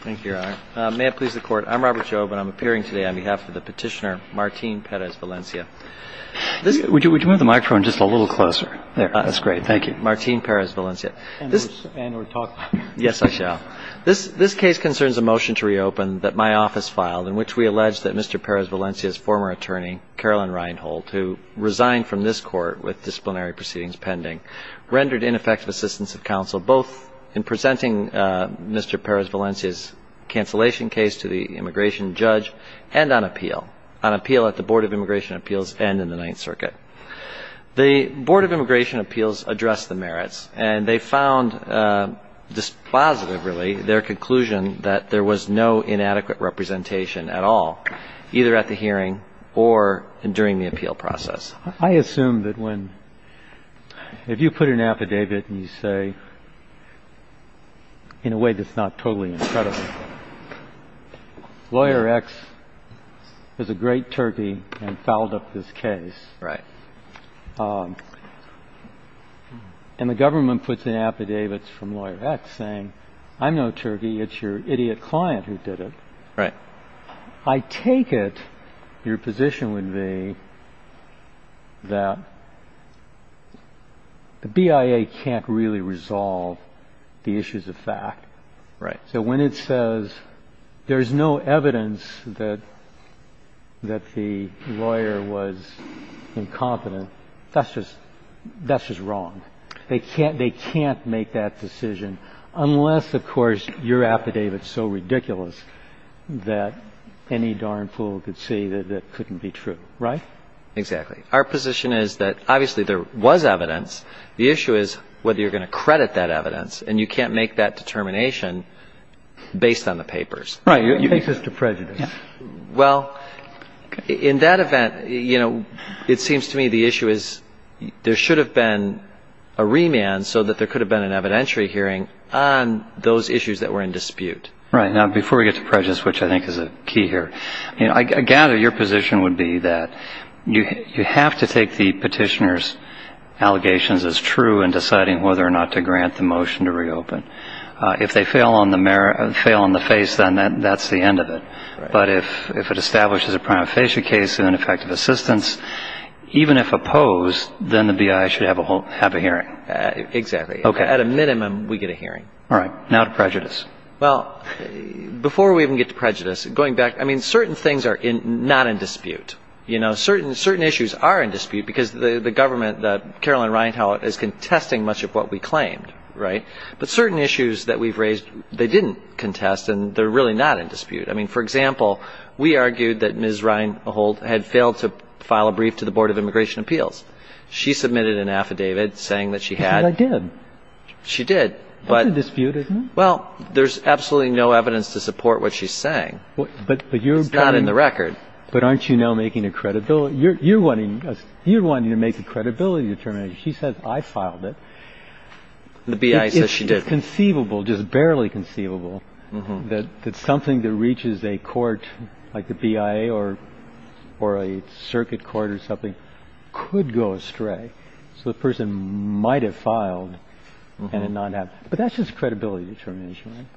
Thank you, Your Honor. May it please the Court, I'm Robert Jobe, and I'm appearing today on behalf of the petitioner Martín Pérez-Valencia. Would you move the microphone just a little closer? There, that's great. Thank you. Martín Pérez-Valencia. And we're talking. Yes, I shall. This case concerns a motion to reopen that my office filed, in which we allege that Mr. Pérez-Valencia's former attorney, Carolyn Reinhold, who resigned from this Court with disciplinary proceedings pending, rendered ineffective assistance of counsel, both in presenting Mr. Pérez-Valencia's cancellation case to the immigration judge and on appeal, on appeal at the Board of Immigration Appeals and in the Ninth Circuit. The Board of Immigration Appeals addressed the merits, and they found dispositive, really, their conclusion that there was no inadequate representation at all, either at the hearing or during the appeal process. I assume that when, if you put an affidavit and you say, in a way that's not totally incredible, Lawyer X is a great turkey and fouled up this case. Right. And the government puts in affidavits from Lawyer X saying, I'm no turkey, it's your idiot client who did it. Right. I take it your position would be that the BIA can't really resolve the issues of fact. Right. So when it says there's no evidence that the lawyer was incompetent, that's just wrong. They can't make that decision unless, of course, your affidavit's so ridiculous that any darn fool could say that that couldn't be true. Right? Exactly. Our position is that, obviously, there was evidence. The issue is whether you're going to credit that evidence, and you can't make that determination based on the papers. Right. You take this to prejudice. Well, in that event, it seems to me the issue is there should have been a remand so that there could have been an evidentiary hearing on those issues that were in dispute. Right. Now, before we get to prejudice, which I think is a key here, I gather your position would be that you have to take the petitioner's allegations as true in deciding whether or not to grant the motion to reopen. If they fail on the face, then that's the end of it. Right. But if it establishes a prima facie case and an effective assistance, even if opposed, then the B.I. should have a hearing. Exactly. Okay. At a minimum, we get a hearing. All right. Now to prejudice. Well, before we even get to prejudice, going back, I mean, certain things are not in dispute. You know, certain issues are in dispute because the government that Carolyn Ryan held is contesting much of what we claimed. Right. But certain issues that we've raised, they didn't contest and they're really not in dispute. I mean, for example, we argued that Ms. Ryan had failed to file a brief to the Board of Immigration Appeals. She submitted an affidavit saying that she had. She said I did. She did. That's in dispute, isn't it? Well, there's absolutely no evidence to support what she's saying. But you're. It's not in the record. But aren't you now making a credibility. You're wanting to make a credibility determination. She says I filed it. The BIA says she did. It's conceivable, just barely conceivable, that something that reaches a court like the BIA or a circuit court or something could go astray. So the person might have filed and not have. But that's just credibility determination.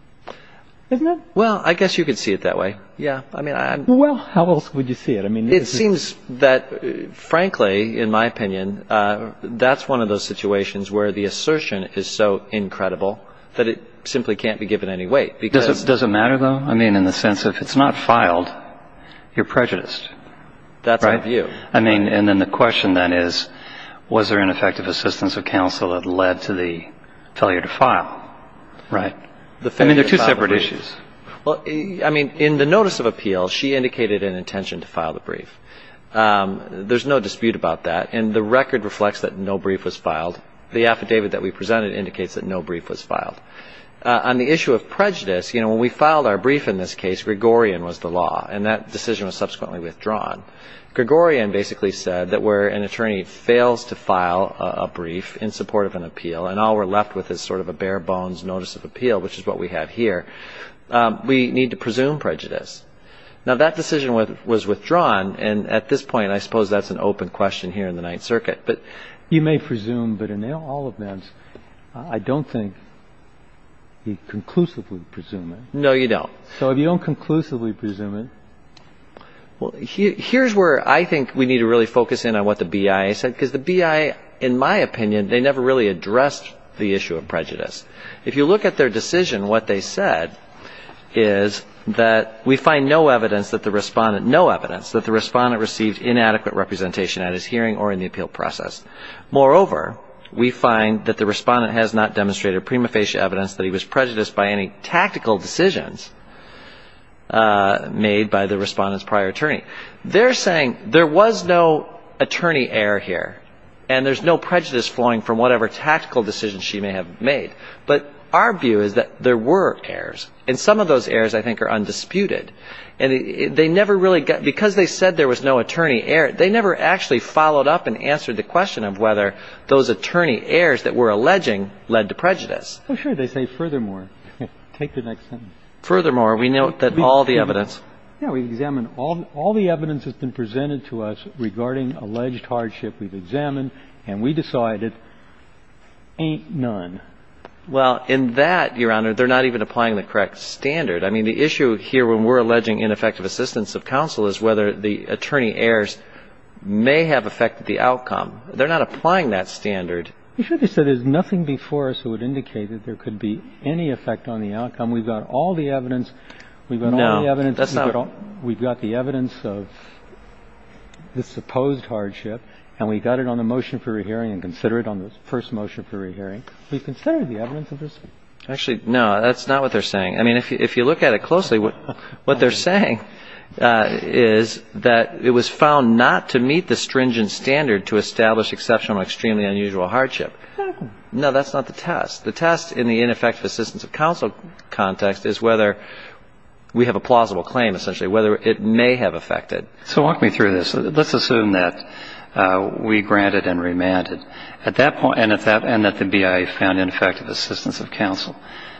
Isn't it? Well, I guess you could see it that way. Yeah. I mean. Well, how else would you see it? It seems that, frankly, in my opinion, that's one of those situations where the assertion is so incredible that it simply can't be given any weight. Does it matter, though? I mean, in the sense of it's not filed, you're prejudiced. That's my view. I mean, and then the question then is, was there ineffective assistance of counsel that led to the failure to file? Right. I mean, they're two separate issues. Well, I mean, in the notice of appeal, she indicated an intention to file the brief. There's no dispute about that, and the record reflects that no brief was filed. The affidavit that we presented indicates that no brief was filed. On the issue of prejudice, you know, when we filed our brief in this case, Gregorian was the law, and that decision was subsequently withdrawn. Gregorian basically said that where an attorney fails to file a brief in support of an appeal and all we're left with is sort of a bare-bones notice of appeal, which is what we have here, we need to presume prejudice. Now, that decision was withdrawn, and at this point, I suppose that's an open question here in the Ninth Circuit. But you may presume, but in all events, I don't think you conclusively presume it. No, you don't. So if you don't conclusively presume it. Well, here's where I think we need to really focus in on what the BIA said, because the BIA, in my opinion, they never really addressed the issue of prejudice. If you look at their decision, what they said is that we find no evidence that the respondent received inadequate representation at his hearing or in the appeal process. Moreover, we find that the respondent has not demonstrated prima facie evidence that he was prejudiced by any tactical decisions made by the respondent's prior attorney. They're saying there was no attorney error here, and there's no prejudice flowing from whatever tactical decisions she may have made. But our view is that there were errors, and some of those errors, I think, are undisputed. And they never really got – because they said there was no attorney error, they never actually followed up and answered the question of whether those attorney errors that we're alleging led to prejudice. Well, sure, they say furthermore. Take the next sentence. Furthermore, we note that all the evidence. Yeah, we examined all the evidence that's been presented to us regarding alleged hardship we've examined, and we decided ain't none. Well, in that, Your Honor, they're not even applying the correct standard. I mean, the issue here when we're alleging ineffective assistance of counsel is whether the attorney errors may have affected the outcome. They're not applying that standard. You should have said there's nothing before us that would indicate that there could be any effect on the outcome. We've got all the evidence. We've got all the evidence. No, that's not – We've got the evidence of the supposed hardship, and we got it on the motion for rehearing and consider it on the first motion for rehearing. We've considered the evidence of this. Actually, no, that's not what they're saying. I mean, if you look at it closely, what they're saying is that it was found not to meet the stringent standard to establish exceptional and extremely unusual hardship. No, that's not the test. The test in the ineffective assistance of counsel context is whether we have a plausible claim, essentially, whether it may have affected. So walk me through this. Let's assume that we granted and remanded, and that the BIA found ineffective assistance of counsel.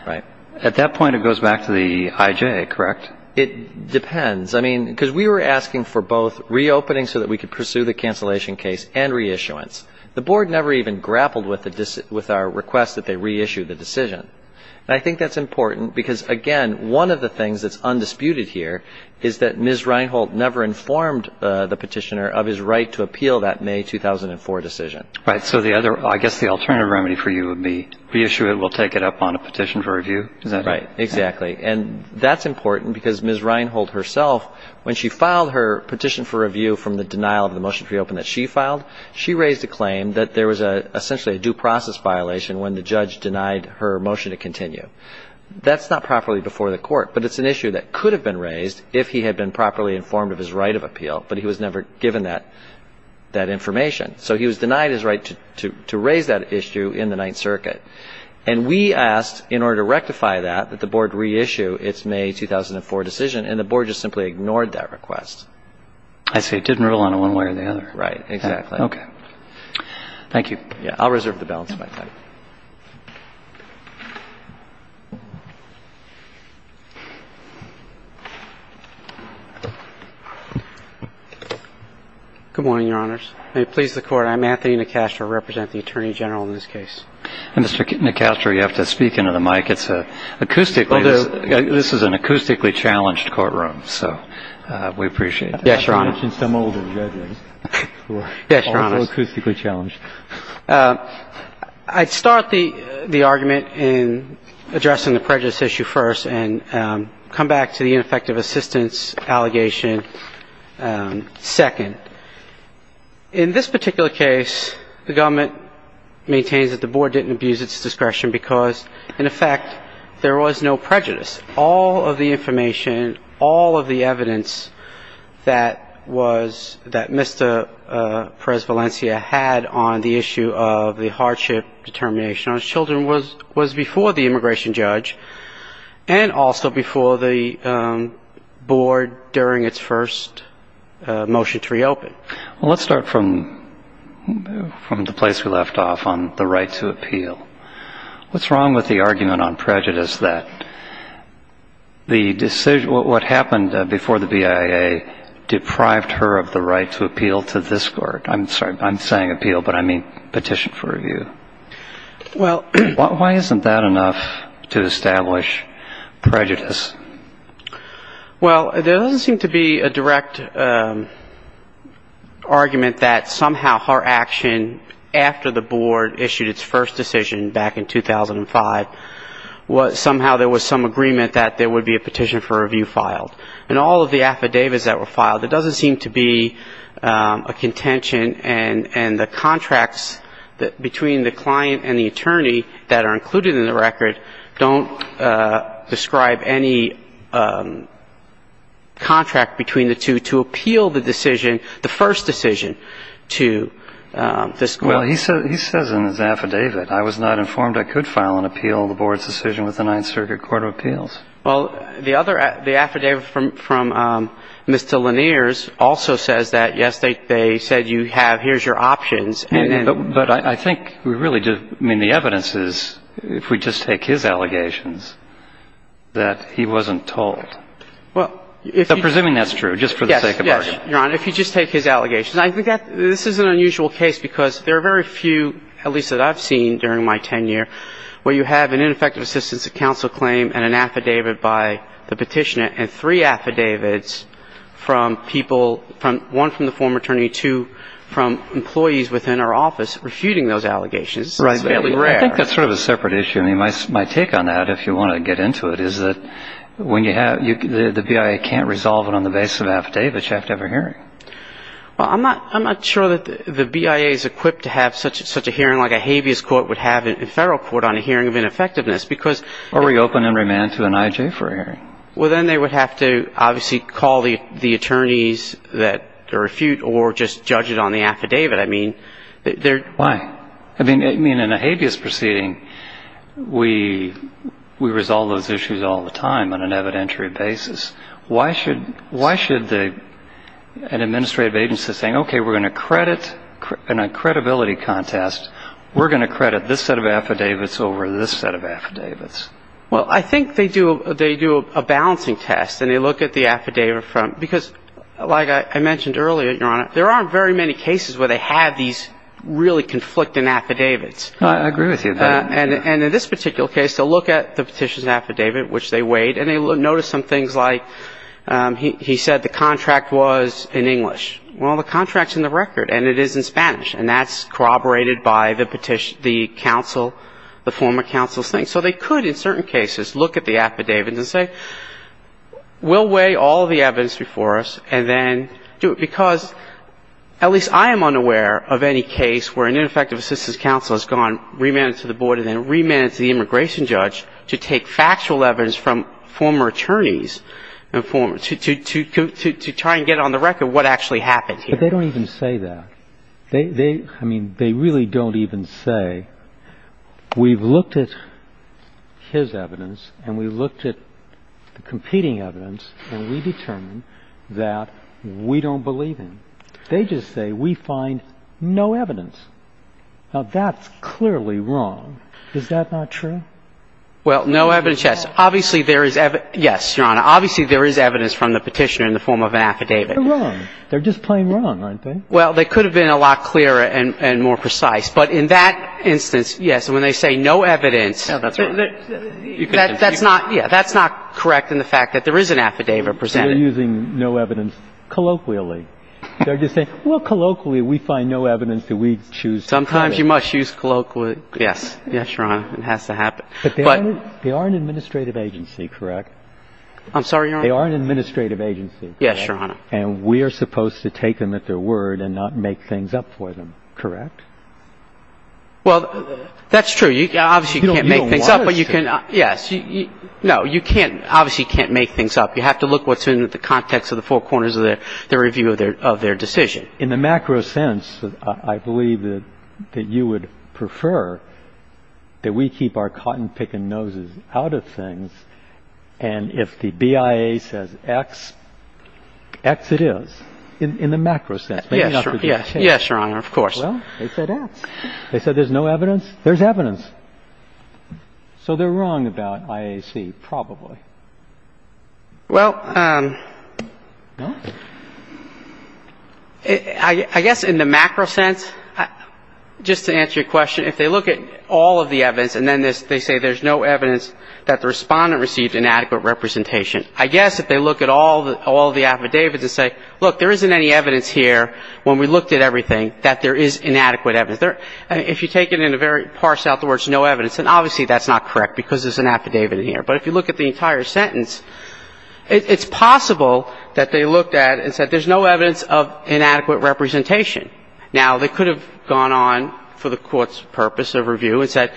Right. At that point, it goes back to the IJ, correct? It depends. I mean, because we were asking for both reopening so that we could pursue the cancellation case and reissuance. The board never even grappled with our request that they reissue the decision. And I think that's important because, again, one of the things that's undisputed here is that Ms. Reinholt never informed the petitioner of his right to appeal that May 2004 decision. Right. So the other – I guess the alternative remedy for you would be reissue it. We'll take it up on a petition for review. Is that right? Exactly. And that's important because Ms. Reinholt herself, when she filed her petition for review from the denial of the motion to reopen that she filed, she raised a claim that there was essentially a due process violation when the judge denied her motion to continue. That's not properly before the court, but it's an issue that could have been raised if he had been properly informed of his right of appeal, but he was never given that information. So he was denied his right to raise that issue in the Ninth Circuit. And we asked, in order to rectify that, that the Board reissue its May 2004 decision, and the Board just simply ignored that request. I see. It didn't rule on it one way or the other. Right. Exactly. Okay. Thank you. Yeah. I'll reserve the balance of my time. Good morning, Your Honors. May it please the Court. I'm Anthony Nicastro. I represent the Attorney General in this case. And, Mr. Nicastro, you have to speak into the mic. It's acoustically – this is an acoustically challenged courtroom, so we appreciate that. Yes, Your Honor. I have to mention some older judges who are also acoustically challenged. Yes, Your Honors. I'd start the argument in addressing the prejudice issue first and come back to the ineffective assistance allegation second. In this particular case, the government maintains that the Board didn't abuse its discretion because, in effect, there was no prejudice. All of the information, all of the evidence that was – that Mr. Perez-Valencia had on the issue of the hardship determination on children was before the immigration judge and also before the Board during its first motion to reopen. Well, let's start from the place we left off on the right to appeal. What's wrong with the argument on prejudice that the – what happened before the BIA deprived her of the right to appeal to this Court? I'm sorry. I'm saying appeal, but I mean petition for review. Well – Why isn't that enough to establish prejudice? Well, there doesn't seem to be a direct argument that somehow her action after the Board issued its first decision back in 2005, somehow there was some agreement that there would be a petition for review filed. In all of the affidavits that were filed, there doesn't seem to be a contention and the contracts between the client and the attorney that are included in the record don't describe any contract between the two to appeal the decision, the first decision to this Court. Well, he says in his affidavit, I was not informed I could file an appeal of the Board's decision with the Ninth Circuit Court of Appeals. Well, the other – the affidavit from Mr. Lanier's also says that, yes, they said you have – here's your options. But I think we really do – I mean, the evidence is, if we just take his allegations, that he wasn't told. Well, if you – So presuming that's true, just for the sake of argument. Yes, yes, Your Honor. If you just take his allegations. I think that this is an unusual case because there are very few, at least that I've seen during my tenure, where you have an ineffective assistance of counsel claim and an affidavit by the petitioner and three affidavits from people – one from the former attorney, two from employees within our office refuting those allegations. Right. It's fairly rare. I think that's sort of a separate issue. I mean, my take on that, if you want to get into it, is that when you have – the BIA can't resolve it on the basis of an affidavit. You have to have a hearing. Well, I'm not sure that the BIA is equipped to have such a hearing like a habeas court would have in federal court on a hearing of ineffectiveness because – Or reopen and remand to an IJ for a hearing. Well, then they would have to obviously call the attorneys that refute or just judge it on the affidavit. I mean, they're – Why? I mean, in a habeas proceeding, we resolve those issues all the time on an evidentiary basis. Why should an administrative agency say, okay, we're going to credit – in a credibility contest, we're going to credit this set of affidavits over this set of affidavits? Well, I think they do a balancing test and they look at the affidavit from – because like I mentioned earlier, Your Honor, there aren't very many cases where they have these really conflicting affidavits. I agree with you. And in this particular case, they'll look at the petition's affidavit, which they weighed, and they noticed some things like he said the contract was in English. Well, the contract's in the record, and it is in Spanish, and that's corroborated by the petition – the counsel – the former counsel's thing. So they could, in certain cases, look at the affidavit and say, we'll weigh all the evidence before us and then do it, because at least I am unaware of any case where an ineffective assistance counsel has gone, remanded to the board and then remanded to the immigration judge to take factual evidence from former attorneys to try and get on the record what actually happened here. But they don't even say that. I mean, they really don't even say, we've looked at his evidence and we've looked at the competing evidence and we've determined that we don't believe him. They just say, we find no evidence. Now, that's clearly wrong. Is that not true? Well, no evidence, yes. Obviously, there is – yes, Your Honor. Obviously, there is evidence from the petitioner in the form of an affidavit. They're wrong. They're just plain wrong, aren't they? Well, they could have been a lot clearer and more precise. But in that instance, yes, when they say no evidence – No, that's wrong. That's not – yeah, that's not correct in the fact that there is an affidavit presented. They're using no evidence colloquially. They're just saying, well, colloquially, we find no evidence that we choose to claim it. Sometimes you must choose colloquially. Yes. Yes, Your Honor. It has to happen. But they are an administrative agency, correct? I'm sorry, Your Honor? They are an administrative agency. Yes, Your Honor. And we are supposed to take them at their word and not make things up for them, correct? Well, that's true. Obviously, you can't make things up. You don't want us to. Yes. No, you can't – obviously, you can't make things up. You have to look what's in the context of the four corners of the review of their decision. In the macro sense, I believe that you would prefer that we keep our cotton-picking noses out of things, and if the BIA says X, X it is, in the macro sense. Yes, Your Honor, of course. Well, they said X. They said there's no evidence. There's evidence. So they're wrong about IAC, probably. Well, I guess in the macro sense, just to answer your question, if they look at all of the evidence and then they say there's no evidence that the Respondent received inadequate representation, I guess if they look at all of the affidavits and say, look, there isn't any evidence here when we looked at everything that there is inadequate evidence. If you take it in a very partial, in other words, no evidence, then obviously that's not correct because there's an affidavit in here. But if you look at the entire sentence, it's possible that they looked at it and said there's no evidence of inadequate representation. Now, they could have gone on for the Court's purpose of review and said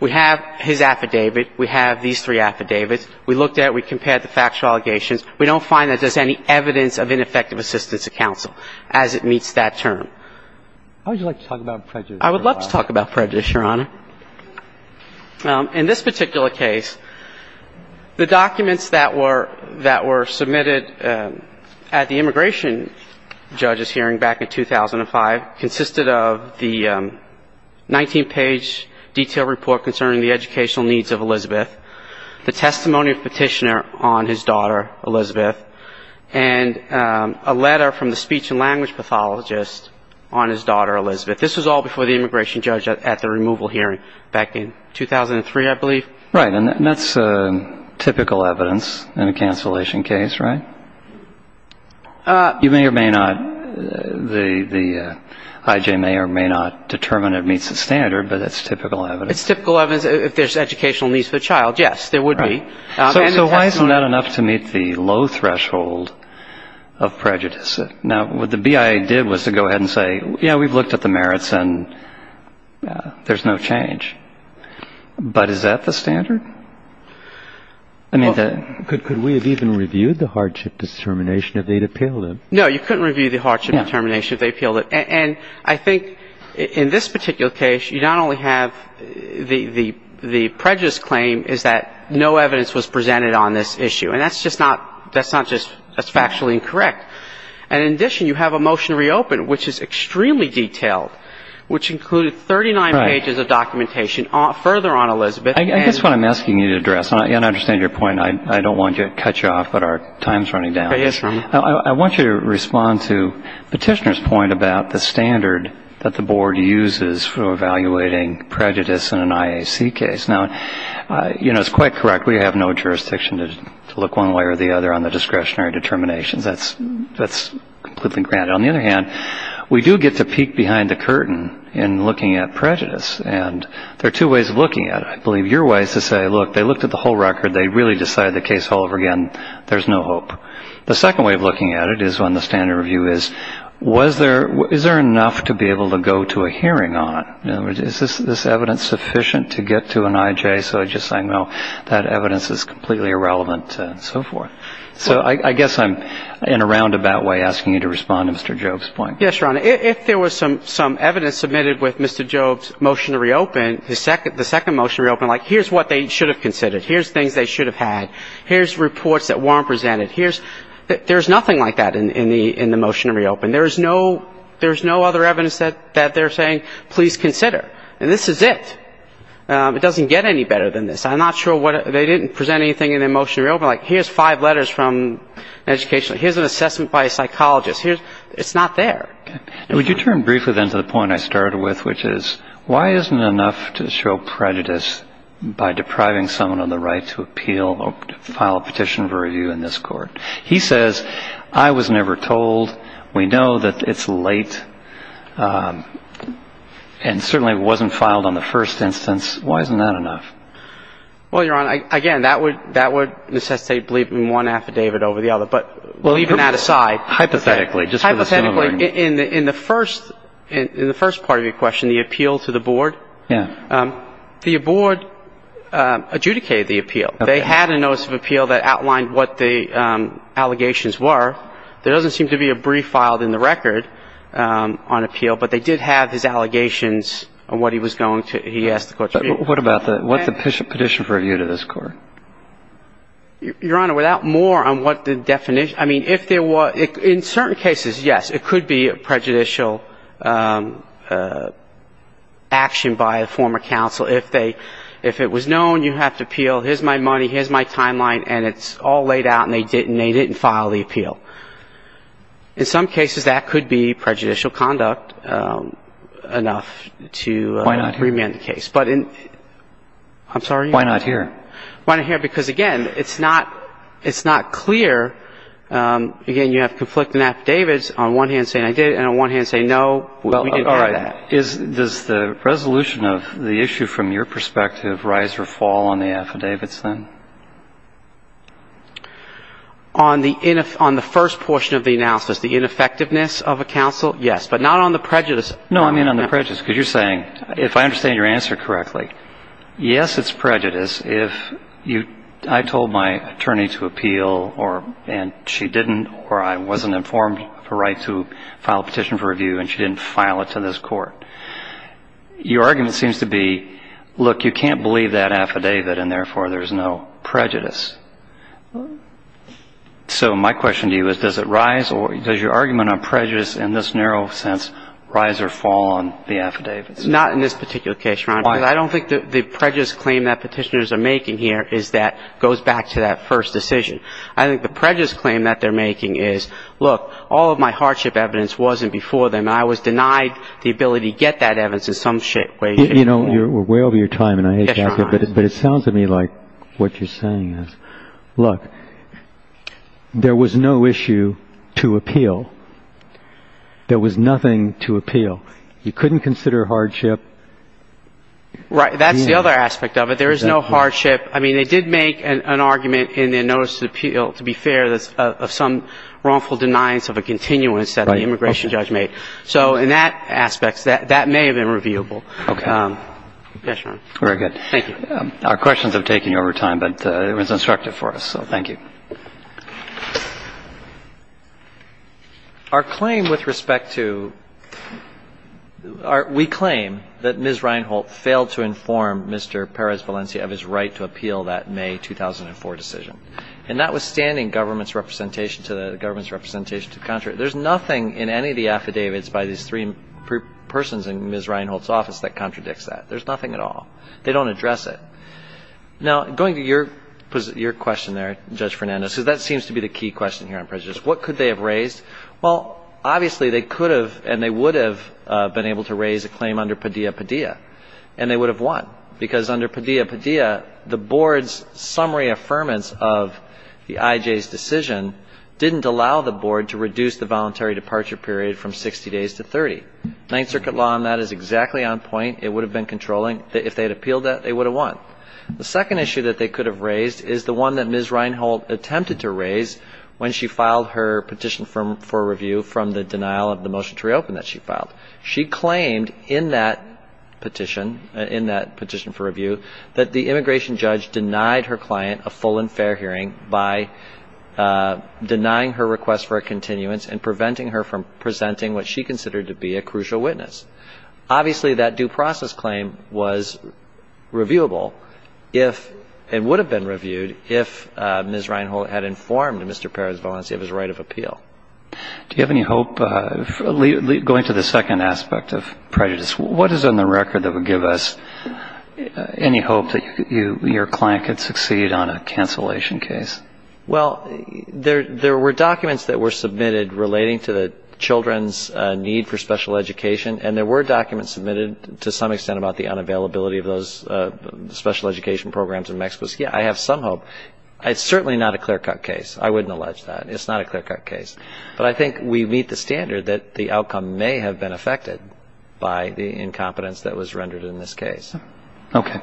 we have his affidavit, we have these three affidavits, we looked at it, we compared the factual allegations. We don't find that there's any evidence of ineffective assistance to counsel as it meets that term. How would you like to talk about prejudice? I would love to talk about prejudice, Your Honor. In this particular case, the documents that were submitted at the immigration judge's hearing back in 2005 consisted of the 19-page detailed report concerning the educational needs of Elizabeth, the testimony of petitioner on his daughter, Elizabeth, and a letter from the speech and language pathologist on his daughter, Elizabeth. This was all before the immigration judge at the removal hearing. Back in 2003, I believe. Right. And that's typical evidence in a cancellation case, right? You may or may not, the I.J. may or may not determine it meets the standard, but it's typical evidence. It's typical evidence if there's educational needs for the child, yes, there would be. So why isn't that enough to meet the low threshold of prejudice? Now, what the BIA did was to go ahead and say, yeah, we've looked at the merits and there's no change. But is that the standard? Could we have even reviewed the hardship determination if they'd appealed it? No, you couldn't review the hardship determination if they appealed it. And I think in this particular case, you not only have the prejudice claim is that no evidence was presented on this issue. And that's just not, that's not just, that's factually incorrect. And in addition, you have a motion to reopen, which is extremely detailed, which included 39 pages of documentation further on Elizabeth. I guess what I'm asking you to address, and I understand your point. I don't want to cut you off, but our time's running down. I want you to respond to Petitioner's point about the standard that the board uses for evaluating prejudice in an IAC case. Now, you know, it's quite correct. We have no jurisdiction to look one way or the other on the discretionary determinations. That's completely granted. On the other hand, we do get to peek behind the curtain in looking at prejudice. And there are two ways of looking at it. I believe your way is to say, look, they looked at the whole record. They really decided the case all over again. There's no hope. The second way of looking at it is when the standard review is, was there, is there enough to be able to go to a hearing on it? In other words, is this evidence sufficient to get to an IJ? So just saying, no, that evidence is completely irrelevant and so forth. So I guess I'm in a roundabout way asking you to respond to Mr. Jobe's point. Yes, Your Honor. If there was some evidence submitted with Mr. Jobe's motion to reopen, the second motion to reopen, like, here's what they should have considered. Here's things they should have had. Here's reports that weren't presented. There's nothing like that in the motion to reopen. There's no other evidence that they're saying, please consider. And this is it. It doesn't get any better than this. I'm not sure what they didn't present anything in the motion to reopen. Like, here's five letters from education. Here's an assessment by a psychologist. It's not there. Would you turn briefly then to the point I started with, which is, why isn't it enough to show prejudice by depriving someone of the right to appeal or file a petition for review in this court? He says, I was never told. We know that it's late and certainly wasn't filed on the first instance. Why isn't that enough? Well, Your Honor, again, that would necessitate believing one affidavit over the other. But leaving that aside, hypothetically, in the first part of your question, the appeal to the board, the board adjudicated the appeal. They had a notice of appeal that outlined what the allegations were. There doesn't seem to be a brief filed in the record on appeal, but they did have his allegations on what he was going to – he asked the court to review. What about the – what's the petition for review to this court? Your Honor, without more on what the definition – I mean, if there were – in certain cases, yes, it could be a prejudicial action by a former counsel. If they – if it was known you have to appeal, here's my money, here's my timeline, and it's all laid out and they didn't – they didn't file the appeal. In some cases, that could be prejudicial conduct enough to remand the case. Why not here? I'm sorry? Why not here? Why not here? Because, again, it's not – it's not clear. Again, you have conflicting affidavits on one hand saying I did it and on one hand saying no, we didn't have that. Well, is – does the resolution of the issue from your perspective rise or fall on the affidavits then? On the – on the first portion of the analysis, the ineffectiveness of a counsel, yes, but not on the prejudice. No, I mean on the prejudice, because you're saying – if I understand your answer correctly, yes, it's prejudice if you – I told my attorney to appeal and she didn't or I wasn't informed of the rights to file a petition for review and she didn't file it to this court. Your argument seems to be, look, you can't believe that affidavit and, therefore, there's no prejudice. So my question to you is does it rise or – does your argument on prejudice in this narrow sense rise or fall on the affidavits? Not in this particular case, Your Honor. Why? Because I don't think that the prejudice claim that petitioners are making here is that goes back to that first decision. I think the prejudice claim that they're making is, look, all of my hardship evidence wasn't before them and I was denied the ability to get that evidence in some way, shape, or form. You know, we're way over your time and I hate to interrupt you, but it sounds to me like what you're saying is, look, there was no issue to appeal. There was nothing to appeal. You couldn't consider hardship. Right. That's the other aspect of it. There is no hardship. I mean, they did make an argument in their notice to appeal, to be fair, of some wrongful deniance of a continuance that the immigration judge made. So in that aspect, that may have been reviewable. Okay. Yes, Your Honor. Very good. Thank you. Our questions have taken over time, but it was instructive for us, so thank you. Our claim with respect to – we claim that Ms. Reinholt failed to inform Mr. Perez-Valencia of his right to appeal that May 2004 decision. And notwithstanding government's representation to – government's representation to – there's nothing in any of the affidavits by these three persons in Ms. Reinholt's office that contradicts that. There's nothing at all. They don't address it. Now, going to your question there, Judge Fernandez, because that seems to be the key question here on prejudice. What could they have raised? Well, obviously, they could have and they would have been able to raise a claim under Padilla-Padilla, and they would have won because under Padilla-Padilla, the board's summary affirmance of the IJ's decision didn't allow the board to reduce the voluntary departure period from 60 days to 30. Ninth Circuit law on that is exactly on point. It would have been controlling. If they had appealed that, they would have won. The second issue that they could have raised is the one that Ms. Reinholt attempted to raise when she filed her petition for review from the denial of the motion to reopen that she filed. She claimed in that petition, in that petition for review, that the immigration judge denied her client a full and fair hearing by denying her request for a continuance and preventing her from presenting what she considered to be a crucial witness. Obviously, that due process claim was reviewable if and would have been reviewed if Ms. Reinholt had informed Mr. Perez-Valencia of his right of appeal. Do you have any hope, going to the second aspect of prejudice, what is on the record that would give us any hope that your client could succeed on a cancellation case? Well, there were documents that were submitted relating to the children's need for special education and there were documents submitted to some extent about the unavailability of those special education programs in Mexico. So, yeah, I have some hope. It's certainly not a clear-cut case. I wouldn't allege that. It's not a clear-cut case. But I think we meet the standard that the outcome may have been affected by the incompetence that was rendered in this case. Okay.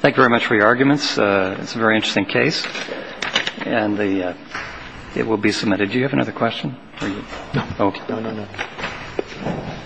Thank you very much for your arguments. It's a very interesting case. And it will be submitted. Do you have another question? No. No, no, no.